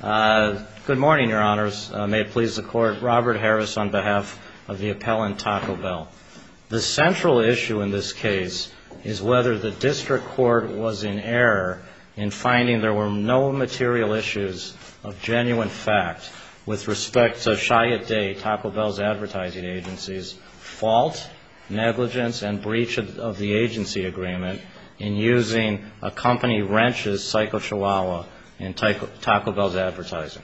Good morning, Your Honors. May it please the Court, Robert Harris on behalf of the appellant Taco Bell. The central issue in this case is whether the District Court was in error in finding there were no material issues of genuine fact with respect to Chiat Day, Taco Bell's advertising agency's fault, negligence, and breach of the agency agreement in using a company wrenches, Psycho Chihuahua, in Taco Bell's advertising.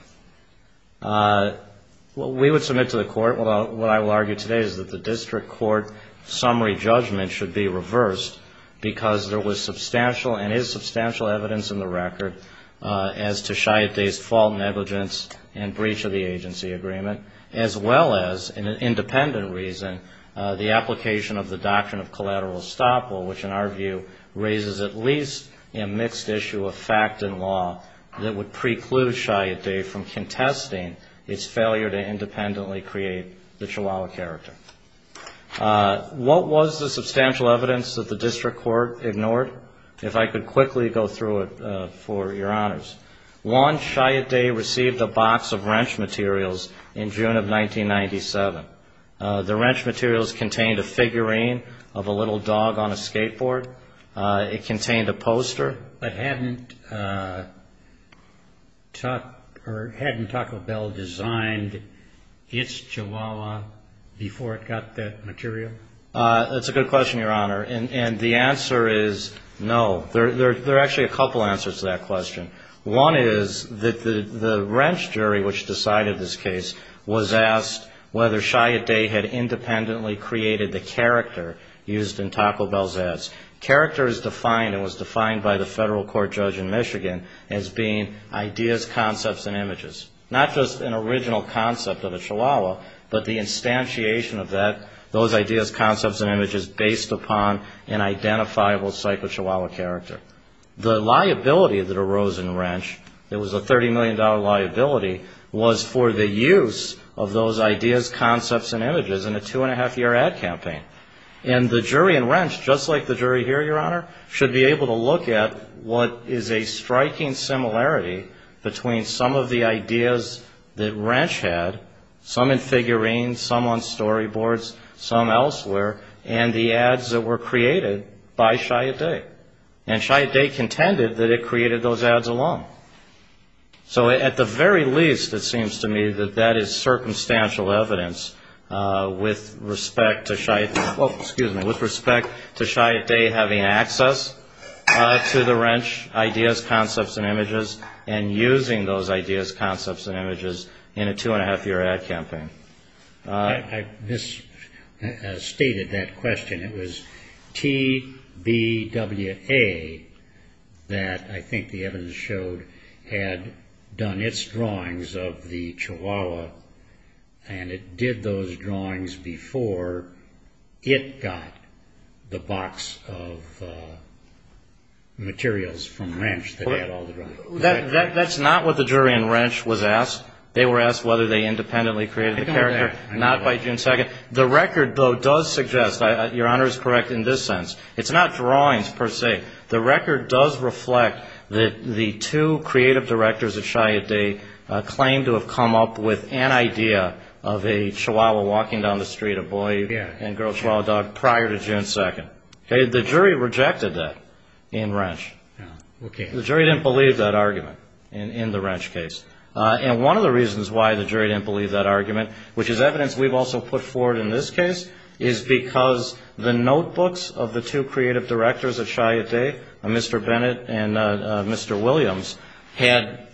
We would submit to the Court what I will argue today is that the District Court summary judgment should be reversed because there was substantial and is substantial evidence in the record as to Chiat Day's fault, negligence, and breach of the agency agreement as well as, in an independent reason, the application of the doctrine of collateral estoppel, which in our view raises at least a mixed issue of fact and law that would preclude Chiat Day from contesting its failure to independently create the Chihuahua character. What was the substantial evidence that the District Court ignored? If I could quickly go through it for Your Honors. One, Chiat Day received a box of wrench materials in June of 1997. The wrench materials contained a figurine of a little dog on a skateboard. It contained a poster. But hadn't Taco Bell designed its Chihuahua before it got that material? That's a good question, Your Honor. And the answer is no. There are actually a couple answers to that question. One is that the wrench jury which decided this case was asked whether Chiat Day had independently created the character used in Taco Bell's ads. Character is defined and was defined by the federal court judge in Michigan as being ideas, concepts, and images. Not just an original concept of a Chihuahua, but the instantiation of that, those ideas, concepts, and images based upon an identifiable psycho-Chihuahua character. The liability that arose in the wrench, it was a $30 million liability, was for the use of those ideas, concepts, and images in a two-and-a-half-year ad campaign. And the jury in wrench, just like the jury here, Your Honor, should be able to look at what is a Chihuahua, what are the ideas that wrench had, some in figurines, some on storyboards, some elsewhere, and the ads that were created by Chiat Day. And Chiat Day contended that it created those ads alone. So at the very least, it seems to me that that is circumstantial evidence with respect to Chiat Day having access to the wrench ideas, concepts, and images, and using those ideas, concepts, and images in a two-and-a-half-year ad campaign. I misstated that question. It was TBWA that I think the evidence showed had done its drawings of the Chihuahua, and it did those drawings before it got the box of materials from wrench that had all the drawings. That's not what the jury in wrench was asked. They were asked whether they independently created the character. Not by June 2nd. The record, though, does suggest, Your Honor is correct in this sense, it's not drawings per se. The record does reflect that the two creative directors of Chiat Day claimed to have come up with an idea of a Chihuahua walking down the street, a boy and girl Chihuahua dog, prior to June 2nd. The jury rejected that in wrench. The jury didn't believe that argument in the wrench case. And one of the reasons why the jury didn't believe that argument, which is evidence we've also put forward in this case, is because the notebooks of the two creative directors of Chiat Day, Mr. Bennett and Mr. Williams, had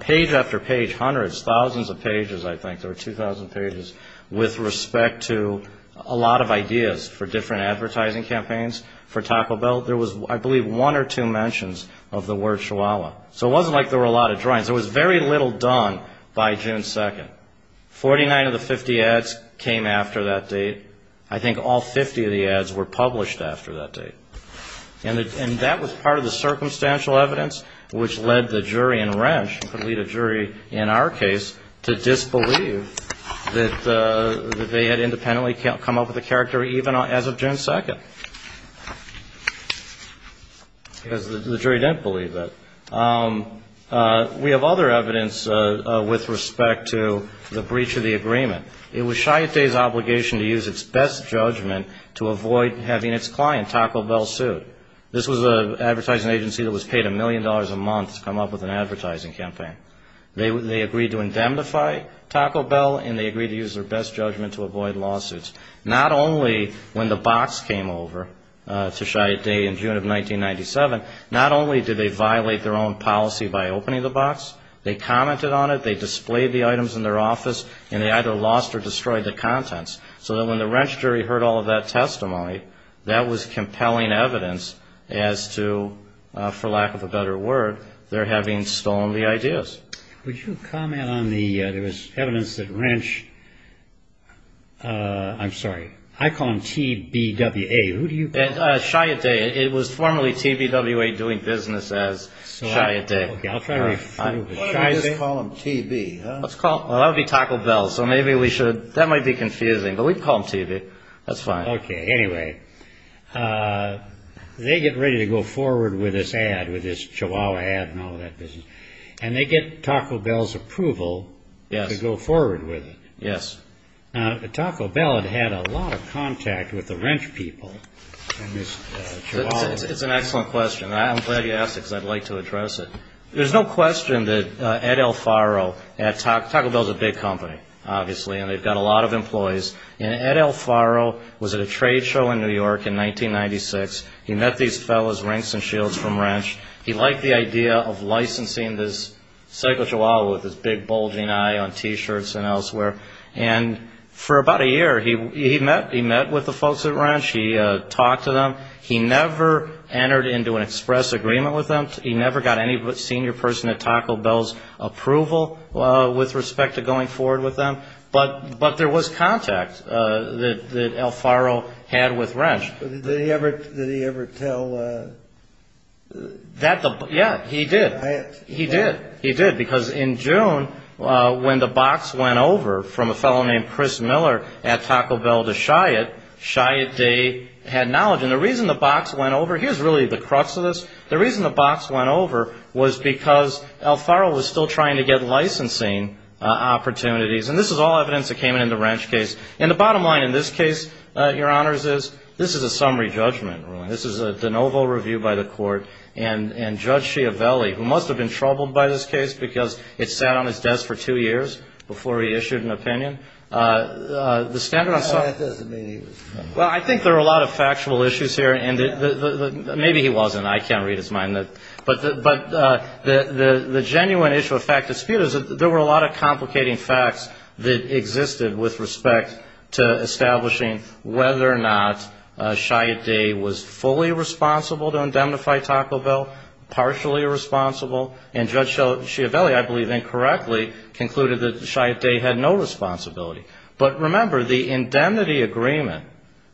page after page, hundreds, thousands of pages, I think, there were 2,000 pages, with respect to a lot of ideas for different advertising campaigns, for talking about Chihuahua. There was, I believe, one or two mentions of the word Chihuahua. So it wasn't like there were a lot of drawings. There was very little done by June 2nd. 49 of the 50 ads came after that date. I think all 50 of the ads were published after that date. And that was part of the circumstantial evidence, which led the jury in wrench, who could lead a jury in our case, to disbelieve that they had independently come up with a character, even as of June 2nd. Because the jury didn't believe that. We have other evidence with respect to the breach of the agreement. It was Chiat Day's obligation to use its best judgment to avoid having its client, Taco Bell, sued. This was an advertising agency that was paid a million dollars a month to come up with an advertising campaign. They agreed to indemnify Taco Bell, and they agreed to use their best judgment to avoid lawsuits. Not only when the box came over to Chiat Day, but also when the box came over to Chiat Day. In June of 1997, not only did they violate their own policy by opening the box, they commented on it, they displayed the items in their office, and they either lost or destroyed the contents. So that when the wrench jury heard all of that testimony, that was compelling evidence as to, for lack of a better word, their having stolen the ideas. Would you comment on the evidence that wrench, I'm sorry, I call them T-B-W-A. Chiat Day, it was formerly T-B-W-A doing business as Chiat Day. Why don't we just call them T-B? Okay, anyway, they get ready to go forward with this ad, with this Chihuahua ad and all of that business, and they get Taco Bell's approval to go forward with it. Taco Bell had had a lot of contact with the wrench people. It's an excellent question. I'm glad you asked it, because I'd like to address it. There's no question that Ed Alfaro, Taco Bell's a big company, obviously, and they've got a lot of employees, and Ed Alfaro was at a trade show in New York in 1996. He met these fellas, Rinks and Shields, from wrench. He liked the idea of licensing this psycho Chihuahua with his big bulging eye on T-shirts and elsewhere. And for about a year he met with the folks at wrench. He talked to them. He never entered into an express agreement with them. He never got any senior person at Taco Bell's approval with respect to going forward with them. But there was contact that Alfaro had with wrench. Did he ever tell... Yeah, he did. He did. Because in June, when the box went over from a fellow named Chris Miller at Taco Bell to Chiat, Chiat Day had knowledge. And the reason the box went over, here's really the crux of this. The reason the box went over was because Alfaro was still trying to get licensing opportunities. And this is all evidence that came in in the wrench case. And the bottom line in this case, Your Honors, is this is a summary judgment ruling. This is a de novo review by the court. And Judge Schiavelli, who must have been troubled by this case because it sat on his desk for two years before he issued an opinion... Well, I think there are a lot of factual issues here. Maybe he wasn't. I can't read his mind. But the genuine issue of fact dispute is that there were a lot of complicating facts that existed with respect to establishing whether or not Chiat Day was fully responsible to indemnify Taco Bell, partially responsible. And Judge Schiavelli, I believe incorrectly, concluded that Chiat Day had no responsibility. But remember, the indemnity agreement,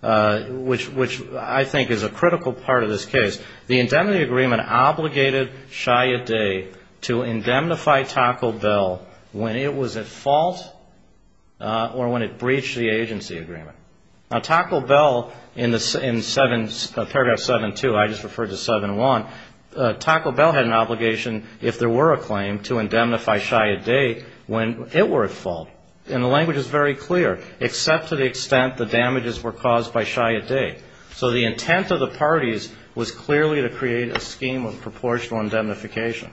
which I think is a critical part of this case, the indemnity agreement obligated Chiat Day to indemnify Taco Bell when it was at fault or when it breached the agency agreement. Now, Taco Bell, in paragraph 7-2, I just referred to 7-1, Taco Bell had an obligation, if there were a claim, to indemnify Chiat Day when it were at fault. And the language is very clear, except to the extent the damages were caused by Chiat Day. So the intent of the parties was clearly to create a scheme of proportional indemnification.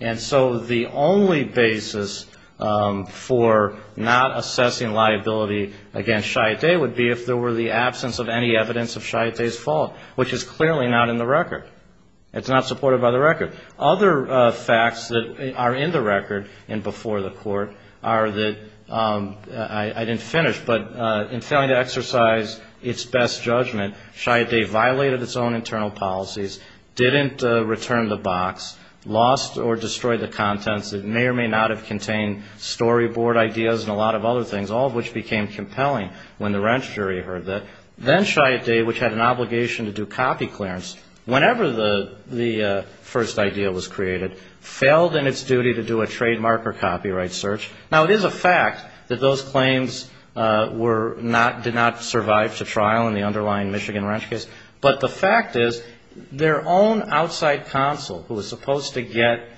And so the only basis for not assessing liability against Chiat Day would be if there were the absence of any evidence of Chiat Day's fault, which is clearly not in the record. I didn't finish, but in failing to exercise its best judgment, Chiat Day violated its own internal policies, didn't return the box, lost or destroyed the contents. It may or may not have contained storyboard ideas and a lot of other things, all of which became compelling when the wrench jury heard that. Then Chiat Day, which had an obligation to do copy clearance, whenever the first idea was created, failed in its duty to do a trademark or copyright search. Now, it is a fact that those claims were not, did not survive to trial in the underlying Michigan wrench case. But the fact is, their own outside counsel, who was supposed to get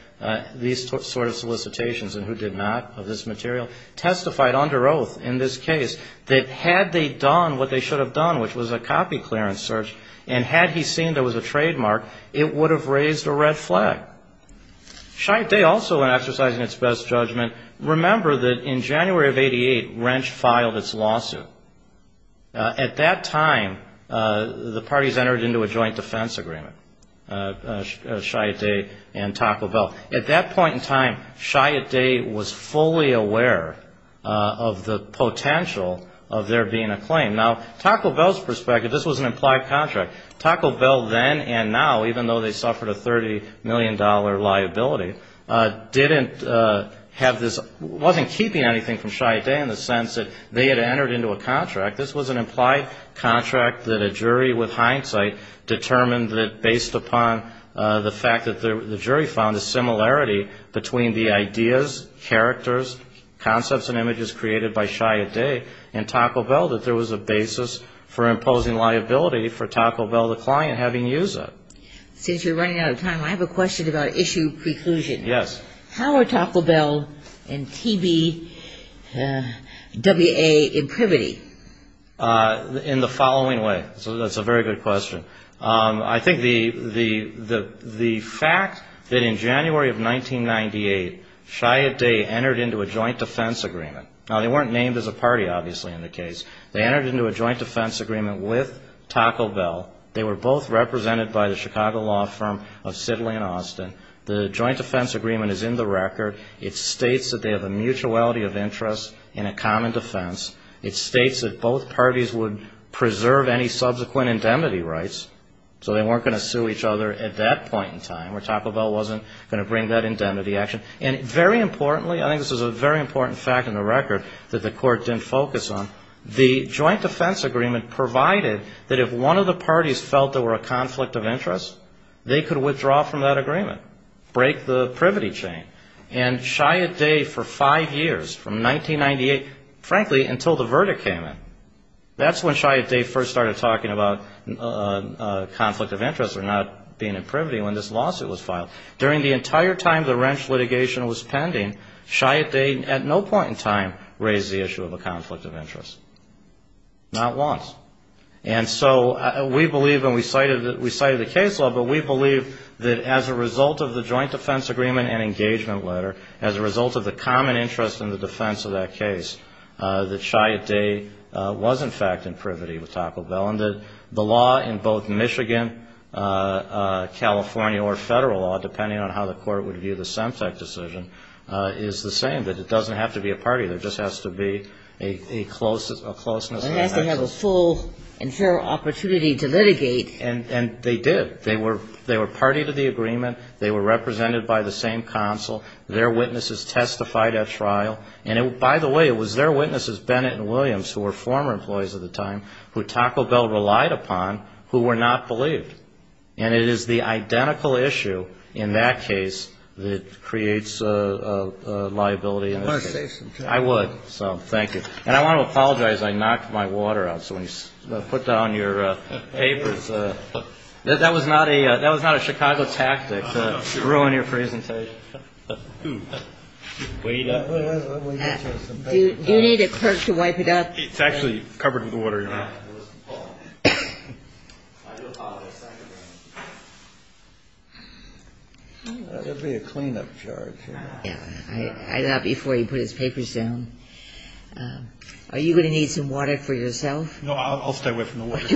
these sort of solicitations and who did not of this material, testified under oath in this case that had they done what they should have done, which was a copy clearance search, and had he seen there was a trademark, it would have raised a red flag. Chiat Day also, in exercising its best judgment, remember that in January of 88, Wrench filed its lawsuit. At that time, the parties entered into a joint defense agreement, Chiat Day and Taco Bell. At that point in time, Chiat Day was fully aware of the potential of there being a claim. Now, Taco Bell's perspective, this was an implied contract. Taco Bell then and now, even though they suffered a $30 million liability, didn't have this, wasn't keeping anything from Chiat Day in the sense that they had entered into a contract. This was an implied contract that a jury, with hindsight, determined that based upon the fact that the jury found a similarity between the ideas, characters, concepts and images created by Chiat Day and Taco Bell, that there was a basis for imposing liability for Taco Bell. Taco Bell, the client, having used it. Since you're running out of time, I have a question about issue preclusion. Yes. How are Taco Bell and T.B.W.A. in privity? In the following way. So that's a very good question. I think the fact that in January of 1998, Chiat Day entered into a joint defense agreement. Now, they weren't named as a party, obviously, in the case. They entered into a joint defense agreement with Taco Bell. They were both represented by the Chicago law firm of Sidley and Austin. The joint defense agreement is in the record. It states that they have a mutuality of interest in a common defense. It states that both parties would preserve any subsequent indemnity rights. So they weren't going to sue each other at that point in time, where Taco Bell wasn't going to bring that indemnity action. And very importantly, I think this is a very important fact in the record that the court didn't focus on, the joint defense agreement provided that if one of the parties felt there were a conflict of interest, they could withdraw from that agreement, break the privity chain. And Chiat Day, for five years, from 1998, frankly, until the verdict came in. That's when Chiat Day first started talking about conflict of interest or not being in privity when this lawsuit was filed. During the entire time the Wrench litigation was pending, Chiat Day at no point in time raised the issue of a conflict of interest. Not once. And so we believe, and we cited the case law, but we believe that as a result of the joint defense agreement and engagement letter, as a result of the common interest in the defense of that case, that Chiat Day was, in fact, in privity with Taco Bell. And the law in both Michigan, California, or federal law, depending on how the court would view the Semtec decision, is the same. That it doesn't have to be a party. There just has to be a closeness. It has to have a full and fair opportunity to litigate. And they did. They were party to the agreement. They were represented by the same counsel. Their witnesses testified at trial. And, by the way, it was their witnesses, Bennett and Williams, who were former employees at the time, who Taco Bell relied upon, who were not believed. And it is the identical issue in that case that creates liability in this case. I would. So thank you. And I want to apologize. I knocked my water out. So when you put down your papers, that was not a Chicago tactic to ruin your presentation. Do you need a clerk to wipe it up? It's actually covered in water. There will be a cleanup charge. I thought before you put his papers down, are you going to need some water for yourself? No, I'll stay away from the water.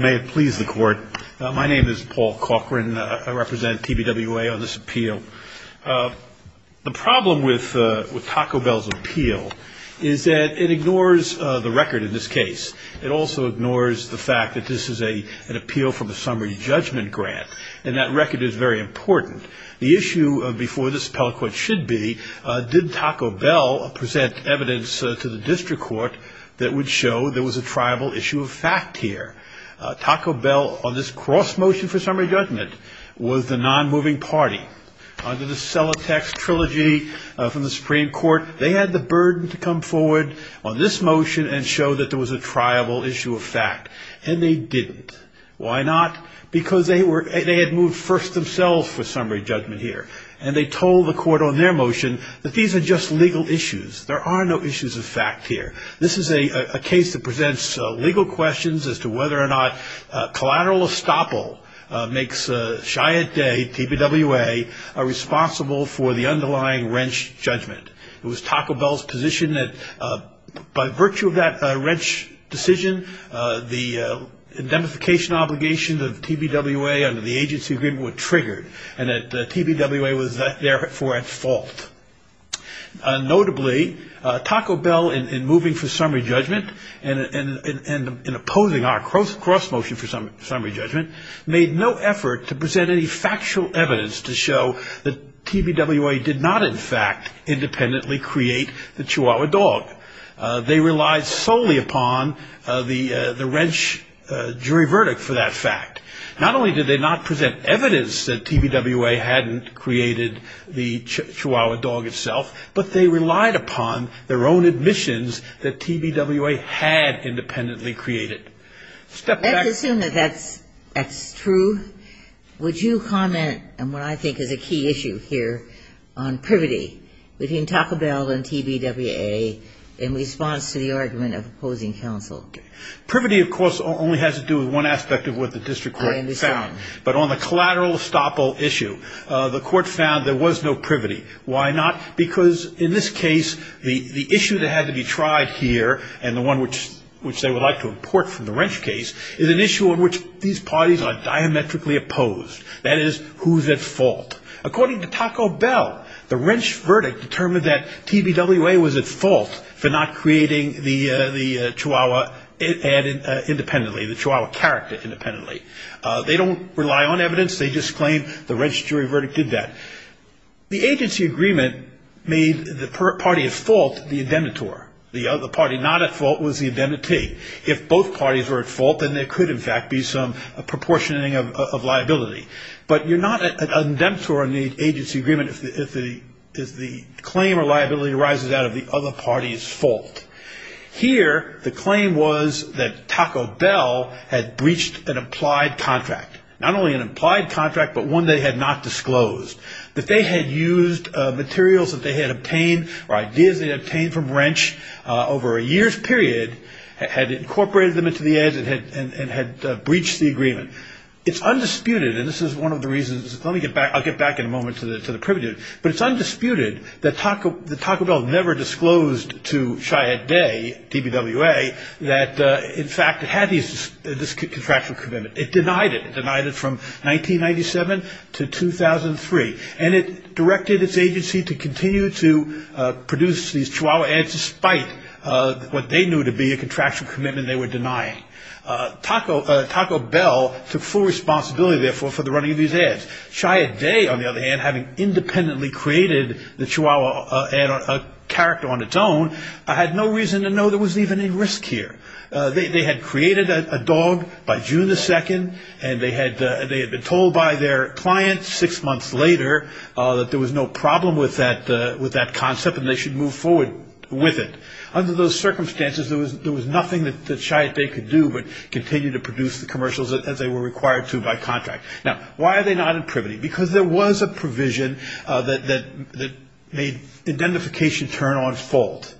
May it please the Court. My name is Paul Cochran. I represent TBWA on this appeal. The problem with Taco Bell's appeal is that it ignores the record in this case. It also ignores the fact that this is an appeal from a summary judgment grant. And that record is very important. The issue before this appellate court should be, did Taco Bell present evidence to the district court that would show there was a triable issue of fact here? Taco Bell, on this cross-motion for summary judgment, was the non-moving party. Under the Celotex trilogy from the Supreme Court, they had the burden to come forward on this motion and show that there was a triable issue of fact. And they didn't. And they told the court on their motion that these are just legal issues. There are no issues of fact here. This is a case that presents legal questions as to whether or not collateral estoppel makes Chiat Day, TBWA, responsible for the underlying wrench judgment. It was Taco Bell's position that by virtue of that wrench decision, the indemnification obligations of TBWA under the agency agreement were triggered. And that TBWA was therefore at fault. Notably, Taco Bell, in moving for summary judgment and in opposing our cross-motion for summary judgment, made no effort to present any factual evidence to show that TBWA did not in fact independently create the Chihuahua dog. They relied solely upon the wrench jury verdict for that fact. Not only did they not present evidence that TBWA hadn't created the Chihuahua dog itself, but they relied upon their own admissions that TBWA had independently created. Let's assume that that's true. Would you comment on what I think is a key issue here on privity between Taco Bell and TBWA in response to the argument of opposing counsel? Privity, of course, only has to do with one aspect of what the district court found. But on the collateral estoppel issue, the court found there was no privity. Why not? Because in this case, the issue that had to be tried here, and the one which they would like to import from the wrench case, is an issue on which these parties are diametrically opposed. That is, who's at fault? According to Taco Bell, the wrench verdict determined that TBWA was at fault for not creating the Chihuahua independently, the Chihuahua character independently. They don't rely on evidence. They just claim the wrench jury verdict did that. The agency agreement made the party at fault the indemnitor. The other party not at fault was the indemnity. If both parties were at fault, then there could, in fact, be some proportioning of liability. But you're not an indemnitor in the agency agreement if the claim or liability arises out of the other party's fault. Here, the claim was that Taco Bell had breached an implied contract, not only an implied contract, but one they had not disclosed, that they had used materials that they had obtained or ideas they had obtained from wrench over a year's period, had incorporated them into the ads, and had breached the agreement. It's undisputed, and this is one of the reasons, I'll get back in a moment to the privity, but it's undisputed that Taco Bell never disclosed to Cheyenne Day, TBWA, that, in fact, it had this contractual commitment. It denied it. It denied it from 1997 to 2003. And it directed its agency to continue to produce these chihuahua ads, despite what they knew to be a contractual commitment they were denying. Taco Bell took full responsibility, therefore, for the running of these ads. Cheyenne Day, on the other hand, having independently created the chihuahua ad, a character on its own, had no reason to know there was even a risk here. They had created a dog by June 2, and they had been told by their client six months later that there was no problem with that concept and they should move forward with it. Under those circumstances, there was nothing that Cheyenne Day could do but continue to produce the commercials as they were required to by contract. Now, why are they not in privity? Because there was a provision that made identification turn on its fault.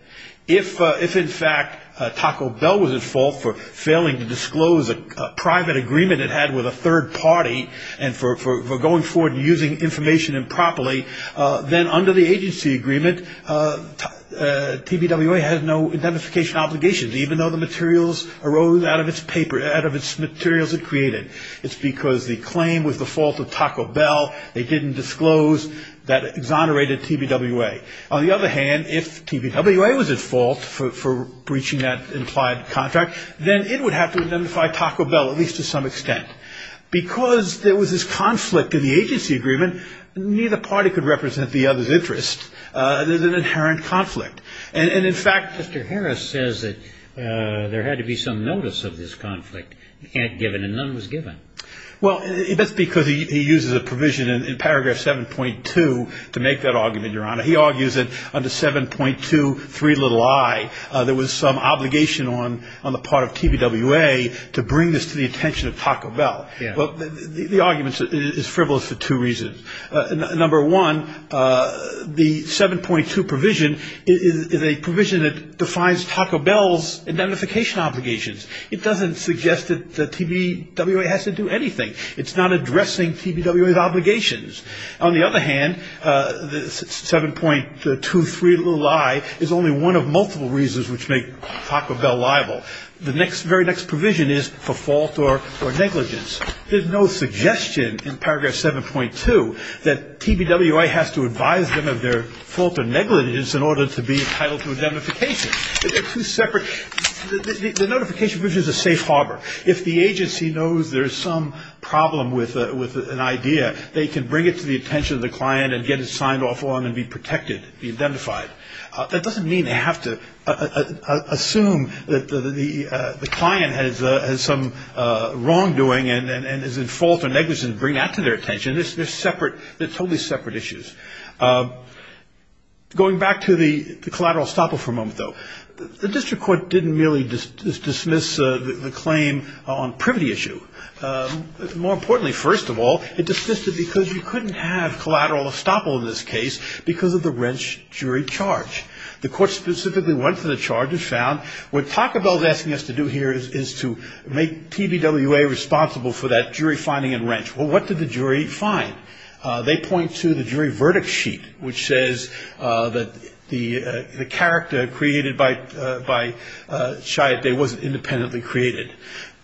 If, in fact, Taco Bell was at fault for failing to disclose a private agreement it had with a third party and for going forward and using information improperly, then under the agency agreement, TBWA had no identification obligations, even though the materials arose out of its materials it created. It's because the claim was the fault of Taco Bell. They didn't disclose that exonerated TBWA. On the other hand, if TBWA was at fault for breaching that implied contract, then it would have to identify Taco Bell at least to some extent. Because there was this conflict in the agency agreement, neither party could represent the other's interest. There's an inherent conflict. And, in fact, Mr. Harris says that there had to be some notice of this conflict. And none was given. Well, that's because he uses a provision in paragraph 7.2 to make that argument, Your Honor. He argues that under 7.23 little i there was some obligation on the part of TBWA to bring this to the attention of Taco Bell. The argument is frivolous for two reasons. Number one, the 7.2 provision is a provision that defines Taco Bell's identification obligations. It doesn't suggest that TBWA has to do anything. It's not addressing TBWA's obligations. On the other hand, 7.23 little i is only one of multiple reasons which make Taco Bell liable. The very next provision is for fault or negligence. There's no suggestion in paragraph 7.2 that TBWA has to advise them of their fault or negligence in order to be entitled to identification. They're two separate the notification provision is a safe harbor. If the agency knows there's some problem with an idea, they can bring it to the attention of the client and get it signed off on and be protected, be identified. That doesn't mean they have to assume that the client has some wrongdoing and is at fault or negligence to bring that to their attention. They're totally separate issues. Going back to the collateral estoppel for a moment, though. The district court didn't merely dismiss the claim on privity issue. More importantly, first of all, it dismissed it because you couldn't have collateral estoppel in this case because of the wrench jury charge. The court specifically went to the charge and found what Taco Bell is asking us to do here is to make TBWA responsible for that jury finding and wrench. Well, what did the jury find? They point to the jury verdict sheet, which says that the character created by Chayotte Day wasn't independently created.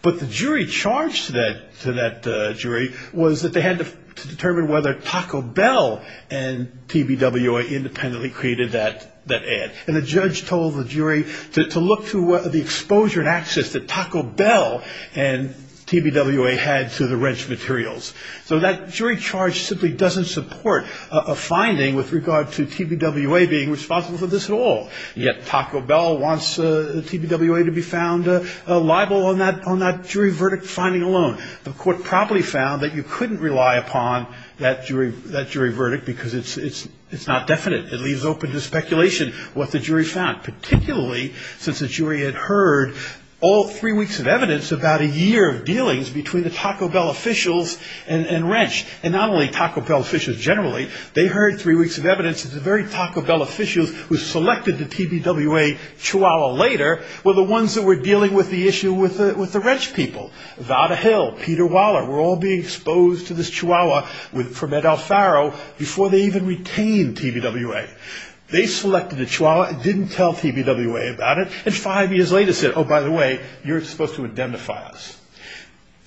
But the jury charge to that jury was that they had to determine whether Taco Bell and TBWA independently created that ad. And the judge told the jury to look through the exposure and access that Taco Bell and TBWA had to the wrench materials. So that jury charge simply doesn't support a finding with regard to TBWA being responsible for this at all. Yet Taco Bell wants TBWA to be found liable on that jury verdict finding alone. The court probably found that you couldn't rely upon that jury verdict because it's not definite. It leaves open to speculation what the jury found, particularly since the jury had heard all three weeks of evidence about a year of dealings between the Taco Bell officials and wrench, and not only Taco Bell officials generally. They heard three weeks of evidence that the very Taco Bell officials who selected the TBWA chihuahua later were the ones that were dealing with the issue with the wrench people. Vada Hill, Peter Waller were all being exposed to this chihuahua from Ed Alfaro before they even retained TBWA. They selected a chihuahua and didn't tell TBWA about it, and five years later said, oh, by the way, you're supposed to identify us.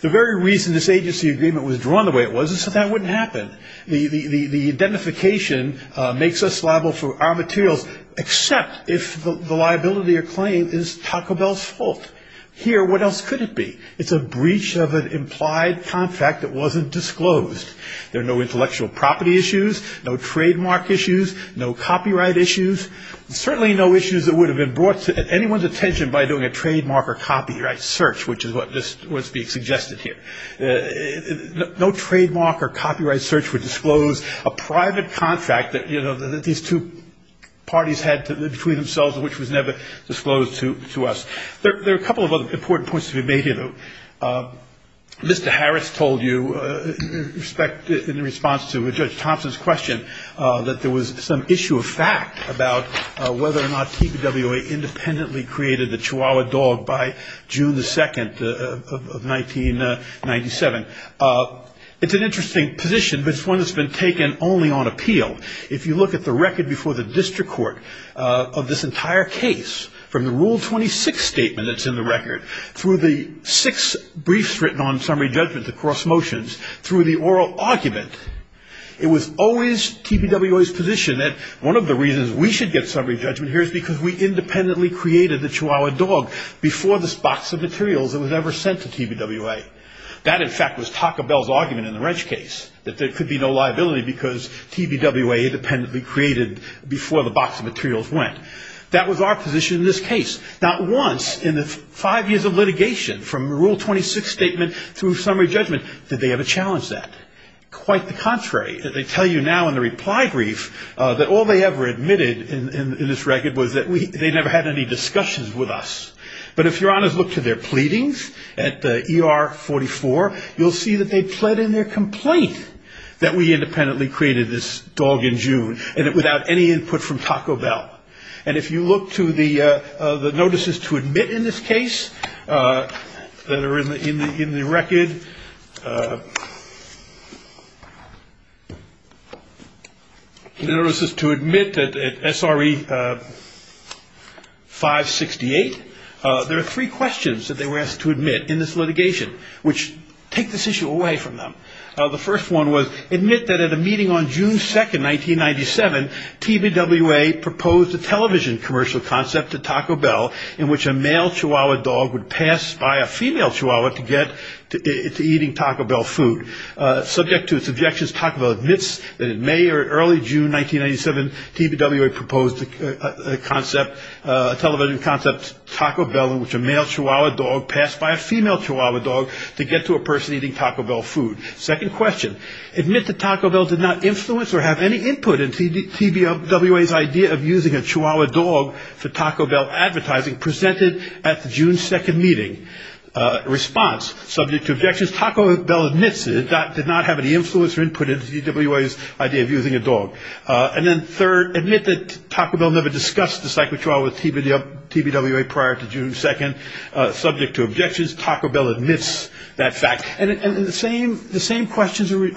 The very reason this agency agreement was drawn the way it was is so that wouldn't happen. The identification makes us liable for our materials, except if the liability or claim is Taco Bell's fault. Here, what else could it be? It's a breach of an implied contract that wasn't disclosed. There are no intellectual property issues, no trademark issues, no copyright issues, certainly no issues that would have been brought to anyone's attention by doing a trademark or copyright search, which is what's being suggested here. No trademark or copyright search would disclose a private contract that these two parties had between themselves, which was never disclosed to us. There are a couple of other important points to be made here, though. Mr. Harris told you, in response to Judge Thompson's question, that there was some issue of fact about whether or not TBWA independently created the Chihuahua dog by June the 2nd of 1997. It's an interesting position, but it's one that's been taken only on appeal. If you look at the record before the district court of this entire case, from the Rule 26 statement that's in the record, through the six briefs written on summary judgments across motions, through the oral argument, it was always TBWA's position that one of the reasons we should get summary judgment here is because we independently created the Chihuahua dog before this box of materials that was ever sent to TBWA. That, in fact, was Taka Bell's argument in the Wrench case, that there could be no liability because TBWA independently created before the box of materials went. That was our position in this case. Not once in the five years of litigation, from the Rule 26 statement through summary judgment, did they ever challenge that. Quite the contrary. They tell you now in the reply brief that all they ever admitted in this record was that they never had any discussions with us. But if Your Honors look to their pleadings at ER44, you'll see that they pled in their complaint that we independently created this dog in June, without any input from Taka Bell. And if you look to the notices to admit in this case that are in the record, the notices to admit at SRE 568, there are three questions that they were asked to admit in this litigation, which take this issue away from them. The first one was, Second question, And then third, And the same questions are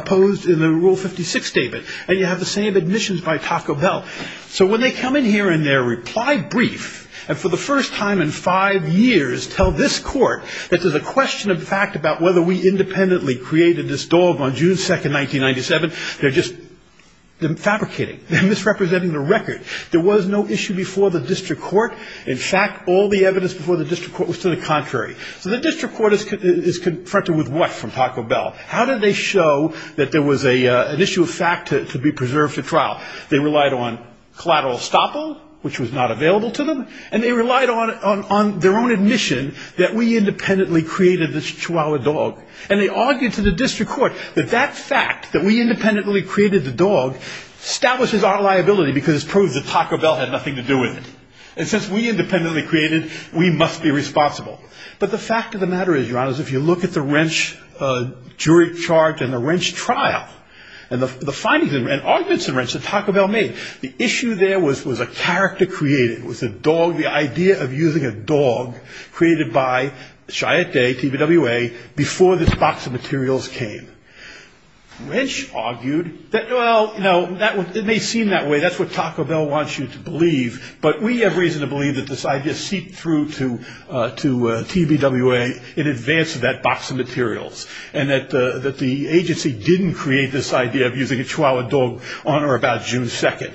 posed in the Rule 56 statement, and you have the same admissions by Taka Bell. So when they come in here in their reply brief, and for the first time in five years tell this court that there's a question of fact about whether we independently created this dog on June 2, 1997, they're just fabricating, they're misrepresenting the record. There was no issue before the district court, in fact, all the evidence before the district court was to the contrary. So the district court is confronted with what from Taka Bell? How did they show that there was an issue of fact to be preserved at trial? They relied on collateral estoppel, which was not available to them, and they relied on their own admission that we independently created this chihuahua dog. And they argued to the district court that that fact, that we independently created the dog, establishes our liability, because it proves that Taka Bell had nothing to do with it. And since we independently created it, we must be responsible. But the fact of the matter is, Your Honors, if you look at the wrench jury charge and the wrench trial, and the findings and arguments that Taka Bell made, the issue there was a character created. It was a dog, the idea of using a dog created by Chiatte, TBWA, before this box of materials came. Wrench argued that, well, you know, it may seem that way, that's what Taka Bell wants you to believe, but we have reason to believe that this idea seeped through to TBWA in advance of that box of materials, and that the agency didn't create this idea of using a chihuahua dog on or about June 2nd.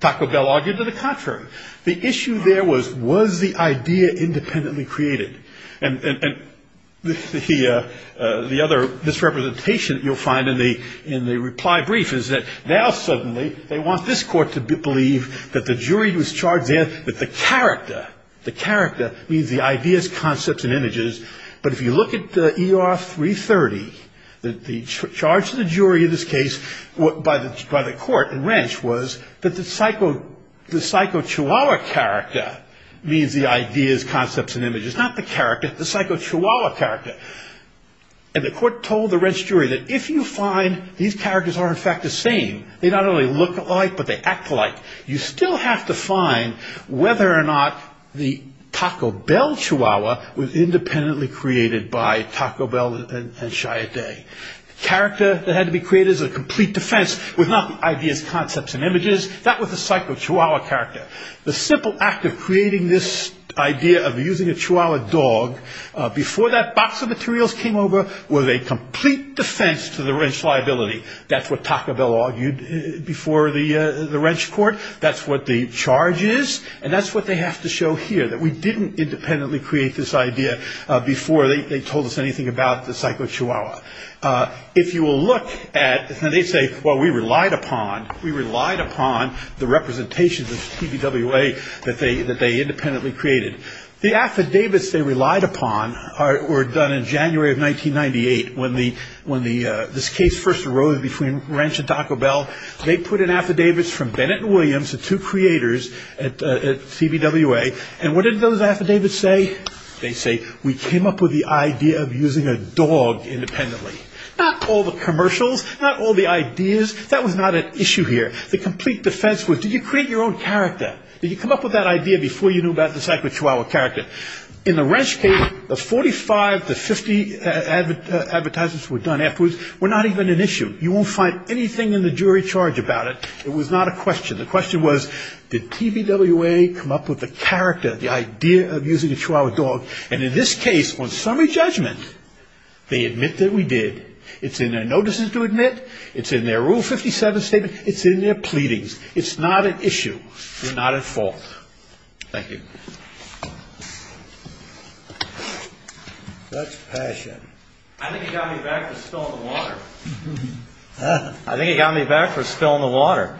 Taka Bell argued to the contrary. The issue there was, was the idea independently created? And the other misrepresentation that you'll find in the reply brief is that now suddenly, they want this court to believe that the jury who's charged there, that the character, the character means the ideas, concepts, and images, but if you look at ER 330, the charge to the jury in this case by the court and wrench was that the psycho chihuahua character means the ideas, concepts, and images, not the character, the psycho chihuahua character. And the court told the wrench jury that if you find these characters are in fact the same, they not only look alike, but they act alike, you still have to find whether or not the Taka Bell chihuahua was independently created by Taka Bell and Shia Day. The character that had to be created as a complete defense was not the ideas, concepts, and images, that was the psycho chihuahua character. The simple act of creating this idea of using a chihuahua dog before that box of materials came over was a complete defense to the wrench liability. That's what Taka Bell argued before the wrench court, that's what the charge is, and that's what they have to show here, that we didn't independently create this idea before they told us anything about the psycho chihuahua. If you will look at, and they say, well we relied upon the representations of TVWA that they independently created. The affidavits they relied upon were done in January of 1998 when this case first arose between wrench and Taka Bell. They put in affidavits from Bennett and Williams, the two creators at TVWA, and what did those affidavits say? They say, we came up with the idea of using a dog independently. Not all the commercials, not all the ideas, that was not an issue here. The complete defense was, did you create your own character? Did you come up with that idea before you knew about the psycho chihuahua character? In the wrench case, the 45 to 50 advertisements were done afterwards were not even an issue. You won't find anything in the jury charge about it. It was not a question. The question was, did TVWA come up with the character, the idea of using a chihuahua dog? And in this case, on summary judgment, they admit that we did. It's in their notices to admit, it's in their Rule 57 statement, it's in their pleadings. It's not an issue. It's not at fault. Thank you. That's passion. I think it got me back for spilling the water.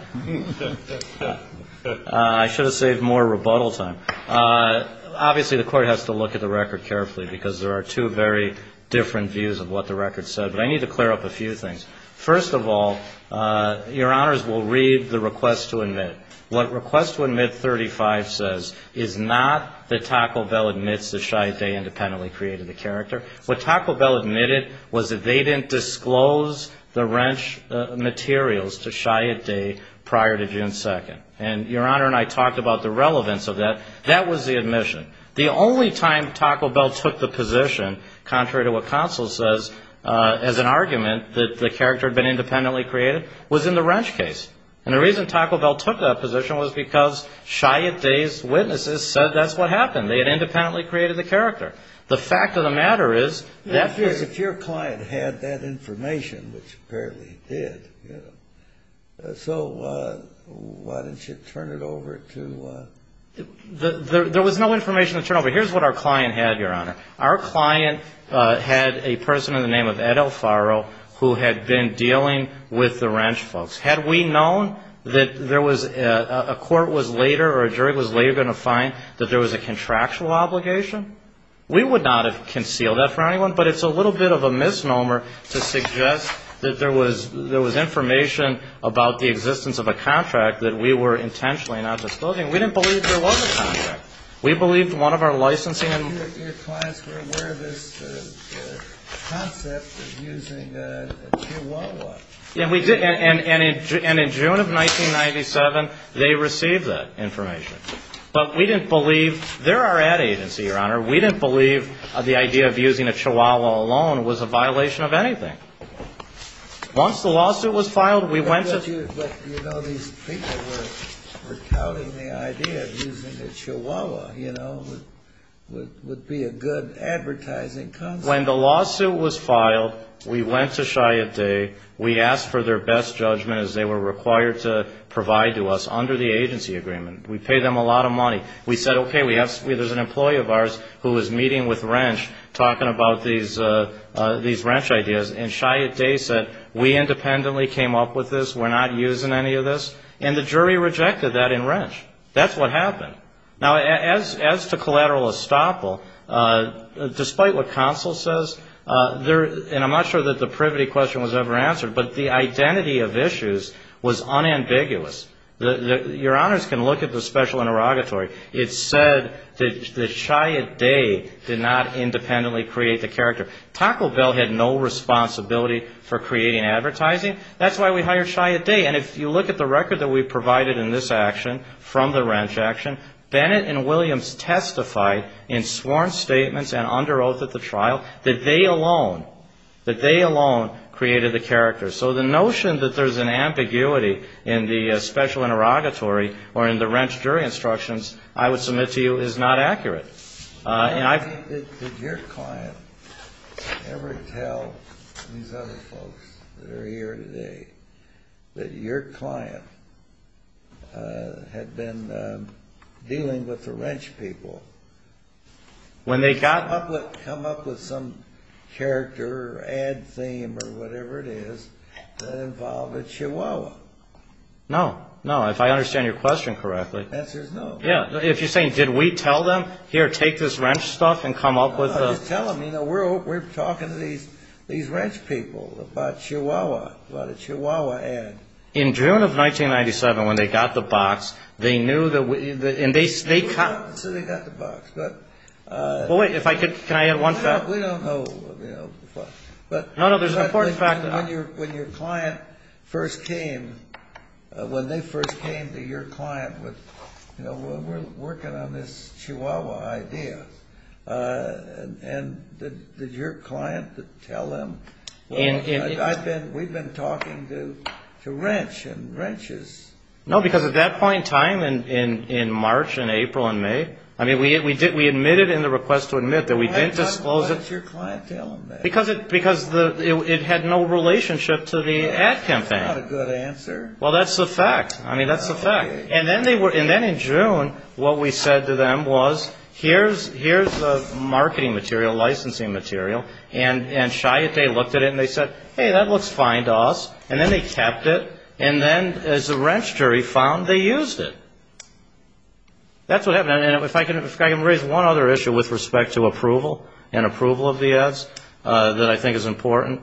I should have saved more rebuttal time. Obviously, the court has to look at the record carefully, because there are two very different views of what the record said. But I need to clear up a few things. First of all, Your Honors, we'll read the request to admit. What request to admit 35 says is not that Taco Bell admits that Shia Day independently created the character. What Taco Bell admitted was that they didn't disclose the wrench materials to Shia Day prior to June 2nd. And Your Honor and I talked about the relevance of that. That was the admission. The only time Taco Bell took the position, contrary to what counsel says, as an argument that the character had been independently created, was in the wrench case. And the reason Taco Bell took that position was because Shia Day's witnesses said that's what happened. They had independently created the character. The fact of the matter is, that's just... If your client had that information, which apparently he did, so why didn't you turn it over to... There was no information to turn over. Here's what our client had, Your Honor. Our client had a person in the name of Ed Alfaro who had been dealing with the wrench folks. Had we known that a court was later or a jury was later going to find that there was a contractual obligation, we would not have concealed that for anyone. But it's a little bit of a misnomer to suggest that there was information about the existence of a contract that we were intentionally not disclosing. We didn't believe there was a contract. We believed one of our licensing... And in June of 1997, they received that information. But we didn't believe, they're our ad agency, Your Honor, we didn't believe the idea of using a chihuahua alone was a violation of anything. Once the lawsuit was filed, we went to... We asked for their best judgment as they were required to provide to us under the agency agreement. We paid them a lot of money. We said, okay, we have... There's an employee of ours who was meeting with wrench, talking about these wrench ideas, and Shia Day said, we independently came up with this, we're not using any of this, and the jury rejected that in wrench. That's what happened. Now, as to collateral estoppel, despite what counsel says, there... And I'm not sure that the privity question was ever answered, but the identity of issues was unambiguous. Your Honors can look at the special interrogatory. It said that Shia Day did not independently create the character. Taco Bell had no responsibility for creating advertising. That's why we hired Shia Day, and if you look at the record that we provided in this action from the wrench action, Bennett and Williams testified in sworn statements and under oath at the trial that they alone, that they alone created the character. So the notion that there's an ambiguity in the special interrogatory or in the wrench jury instructions, I would submit to you, is not accurate. And I... I'm not sure that Shia Day, that your client, had been dealing with the wrench people. Come up with some character or ad theme or whatever it is that involved a Chihuahua. No, no, if I understand your question correctly. The answer is no. If you're saying, did we tell them, here, take this wrench stuff and come up with... No, no, we didn't tell them. We're talking to these wrench people about Chihuahua, about a Chihuahua ad. In June of 1997, when they got the box, they knew that we... So they got the box, but... Well, wait, if I could, can I add one thing? No, we don't know. No, no, there's an important fact that... When your client first came, when they first came to your client with, you know, we're working on this Chihuahua idea, and did your client tell them, well, we've been talking to wrench and wrenches. No, because at that point in time, in March and April and May, I mean, we admitted in the request to admit that we didn't disclose it. Why didn't your client tell them that? Because it had no relationship to the ad campaign. That's not a good answer. Well, that's the fact. I mean, that's the fact. And then in June, what we said to them was, here's the marketing material, licensing material. And Chiatay looked at it and they said, hey, that looks fine to us. And then they kept it. And then as the wrench jury found, they used it. That's what happened. And if I can raise one other issue with respect to approval and approval of the ads that I think is important.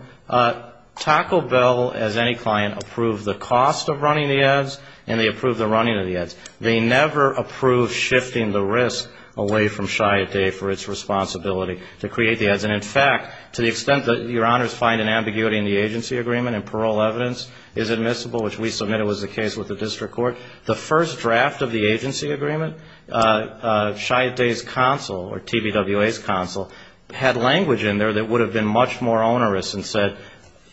Taco Bell, as any client, approved the cost of running the ads, and they approved the running of the ads. They never approved shifting the risk away from Chiatay for its responsibility to create the ads. And in fact, to the extent that your honors find an ambiguity in the agency agreement and parole evidence is admissible, which we submitted was the case with the district court, the first draft of the ad was not. The first draft of the agency agreement, Chiatay's counsel or TBWA's counsel had language in there that would have been much more onerous and said,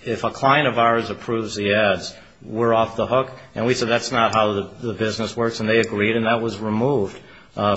if a client of ours approves the ads, we're off the hook. And we said, that's not how the business works. And they agreed, and that was removed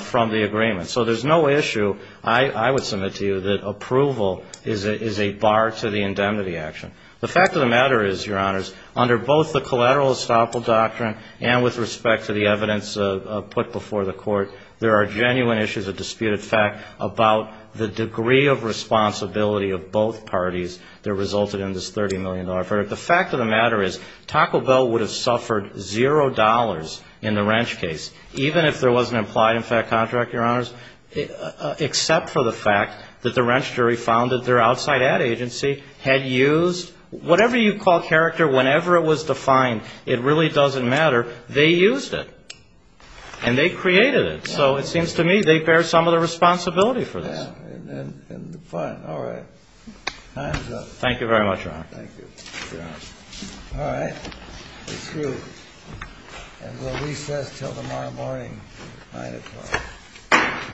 from the agreement. So there's no issue I would submit to you that approval is a bar to the indemnity action. The fact of the matter is, your honors, under both the collateral estoppel doctrine and with respect to the evidence put before the court, there are genuine issues of disputed fact about the degree of responsibility of both parties that resulted in this $30 million verdict. The fact of the matter is, Taco Bell would have suffered zero dollars in the Wrench case, even if there was an implied in fact contract, your honors, except for the fact that the Wrench jury found that their outside ad agency had used the $30 million. Whatever you call character, whenever it was defined, it really doesn't matter. They used it, and they created it. So it seems to me they bear some of the responsibility for this. All right. Time's up. Thank you very much, Your Honor. Thank you. Your Honor. All right. We're through. And we'll recess until tomorrow morning, 9 o'clock.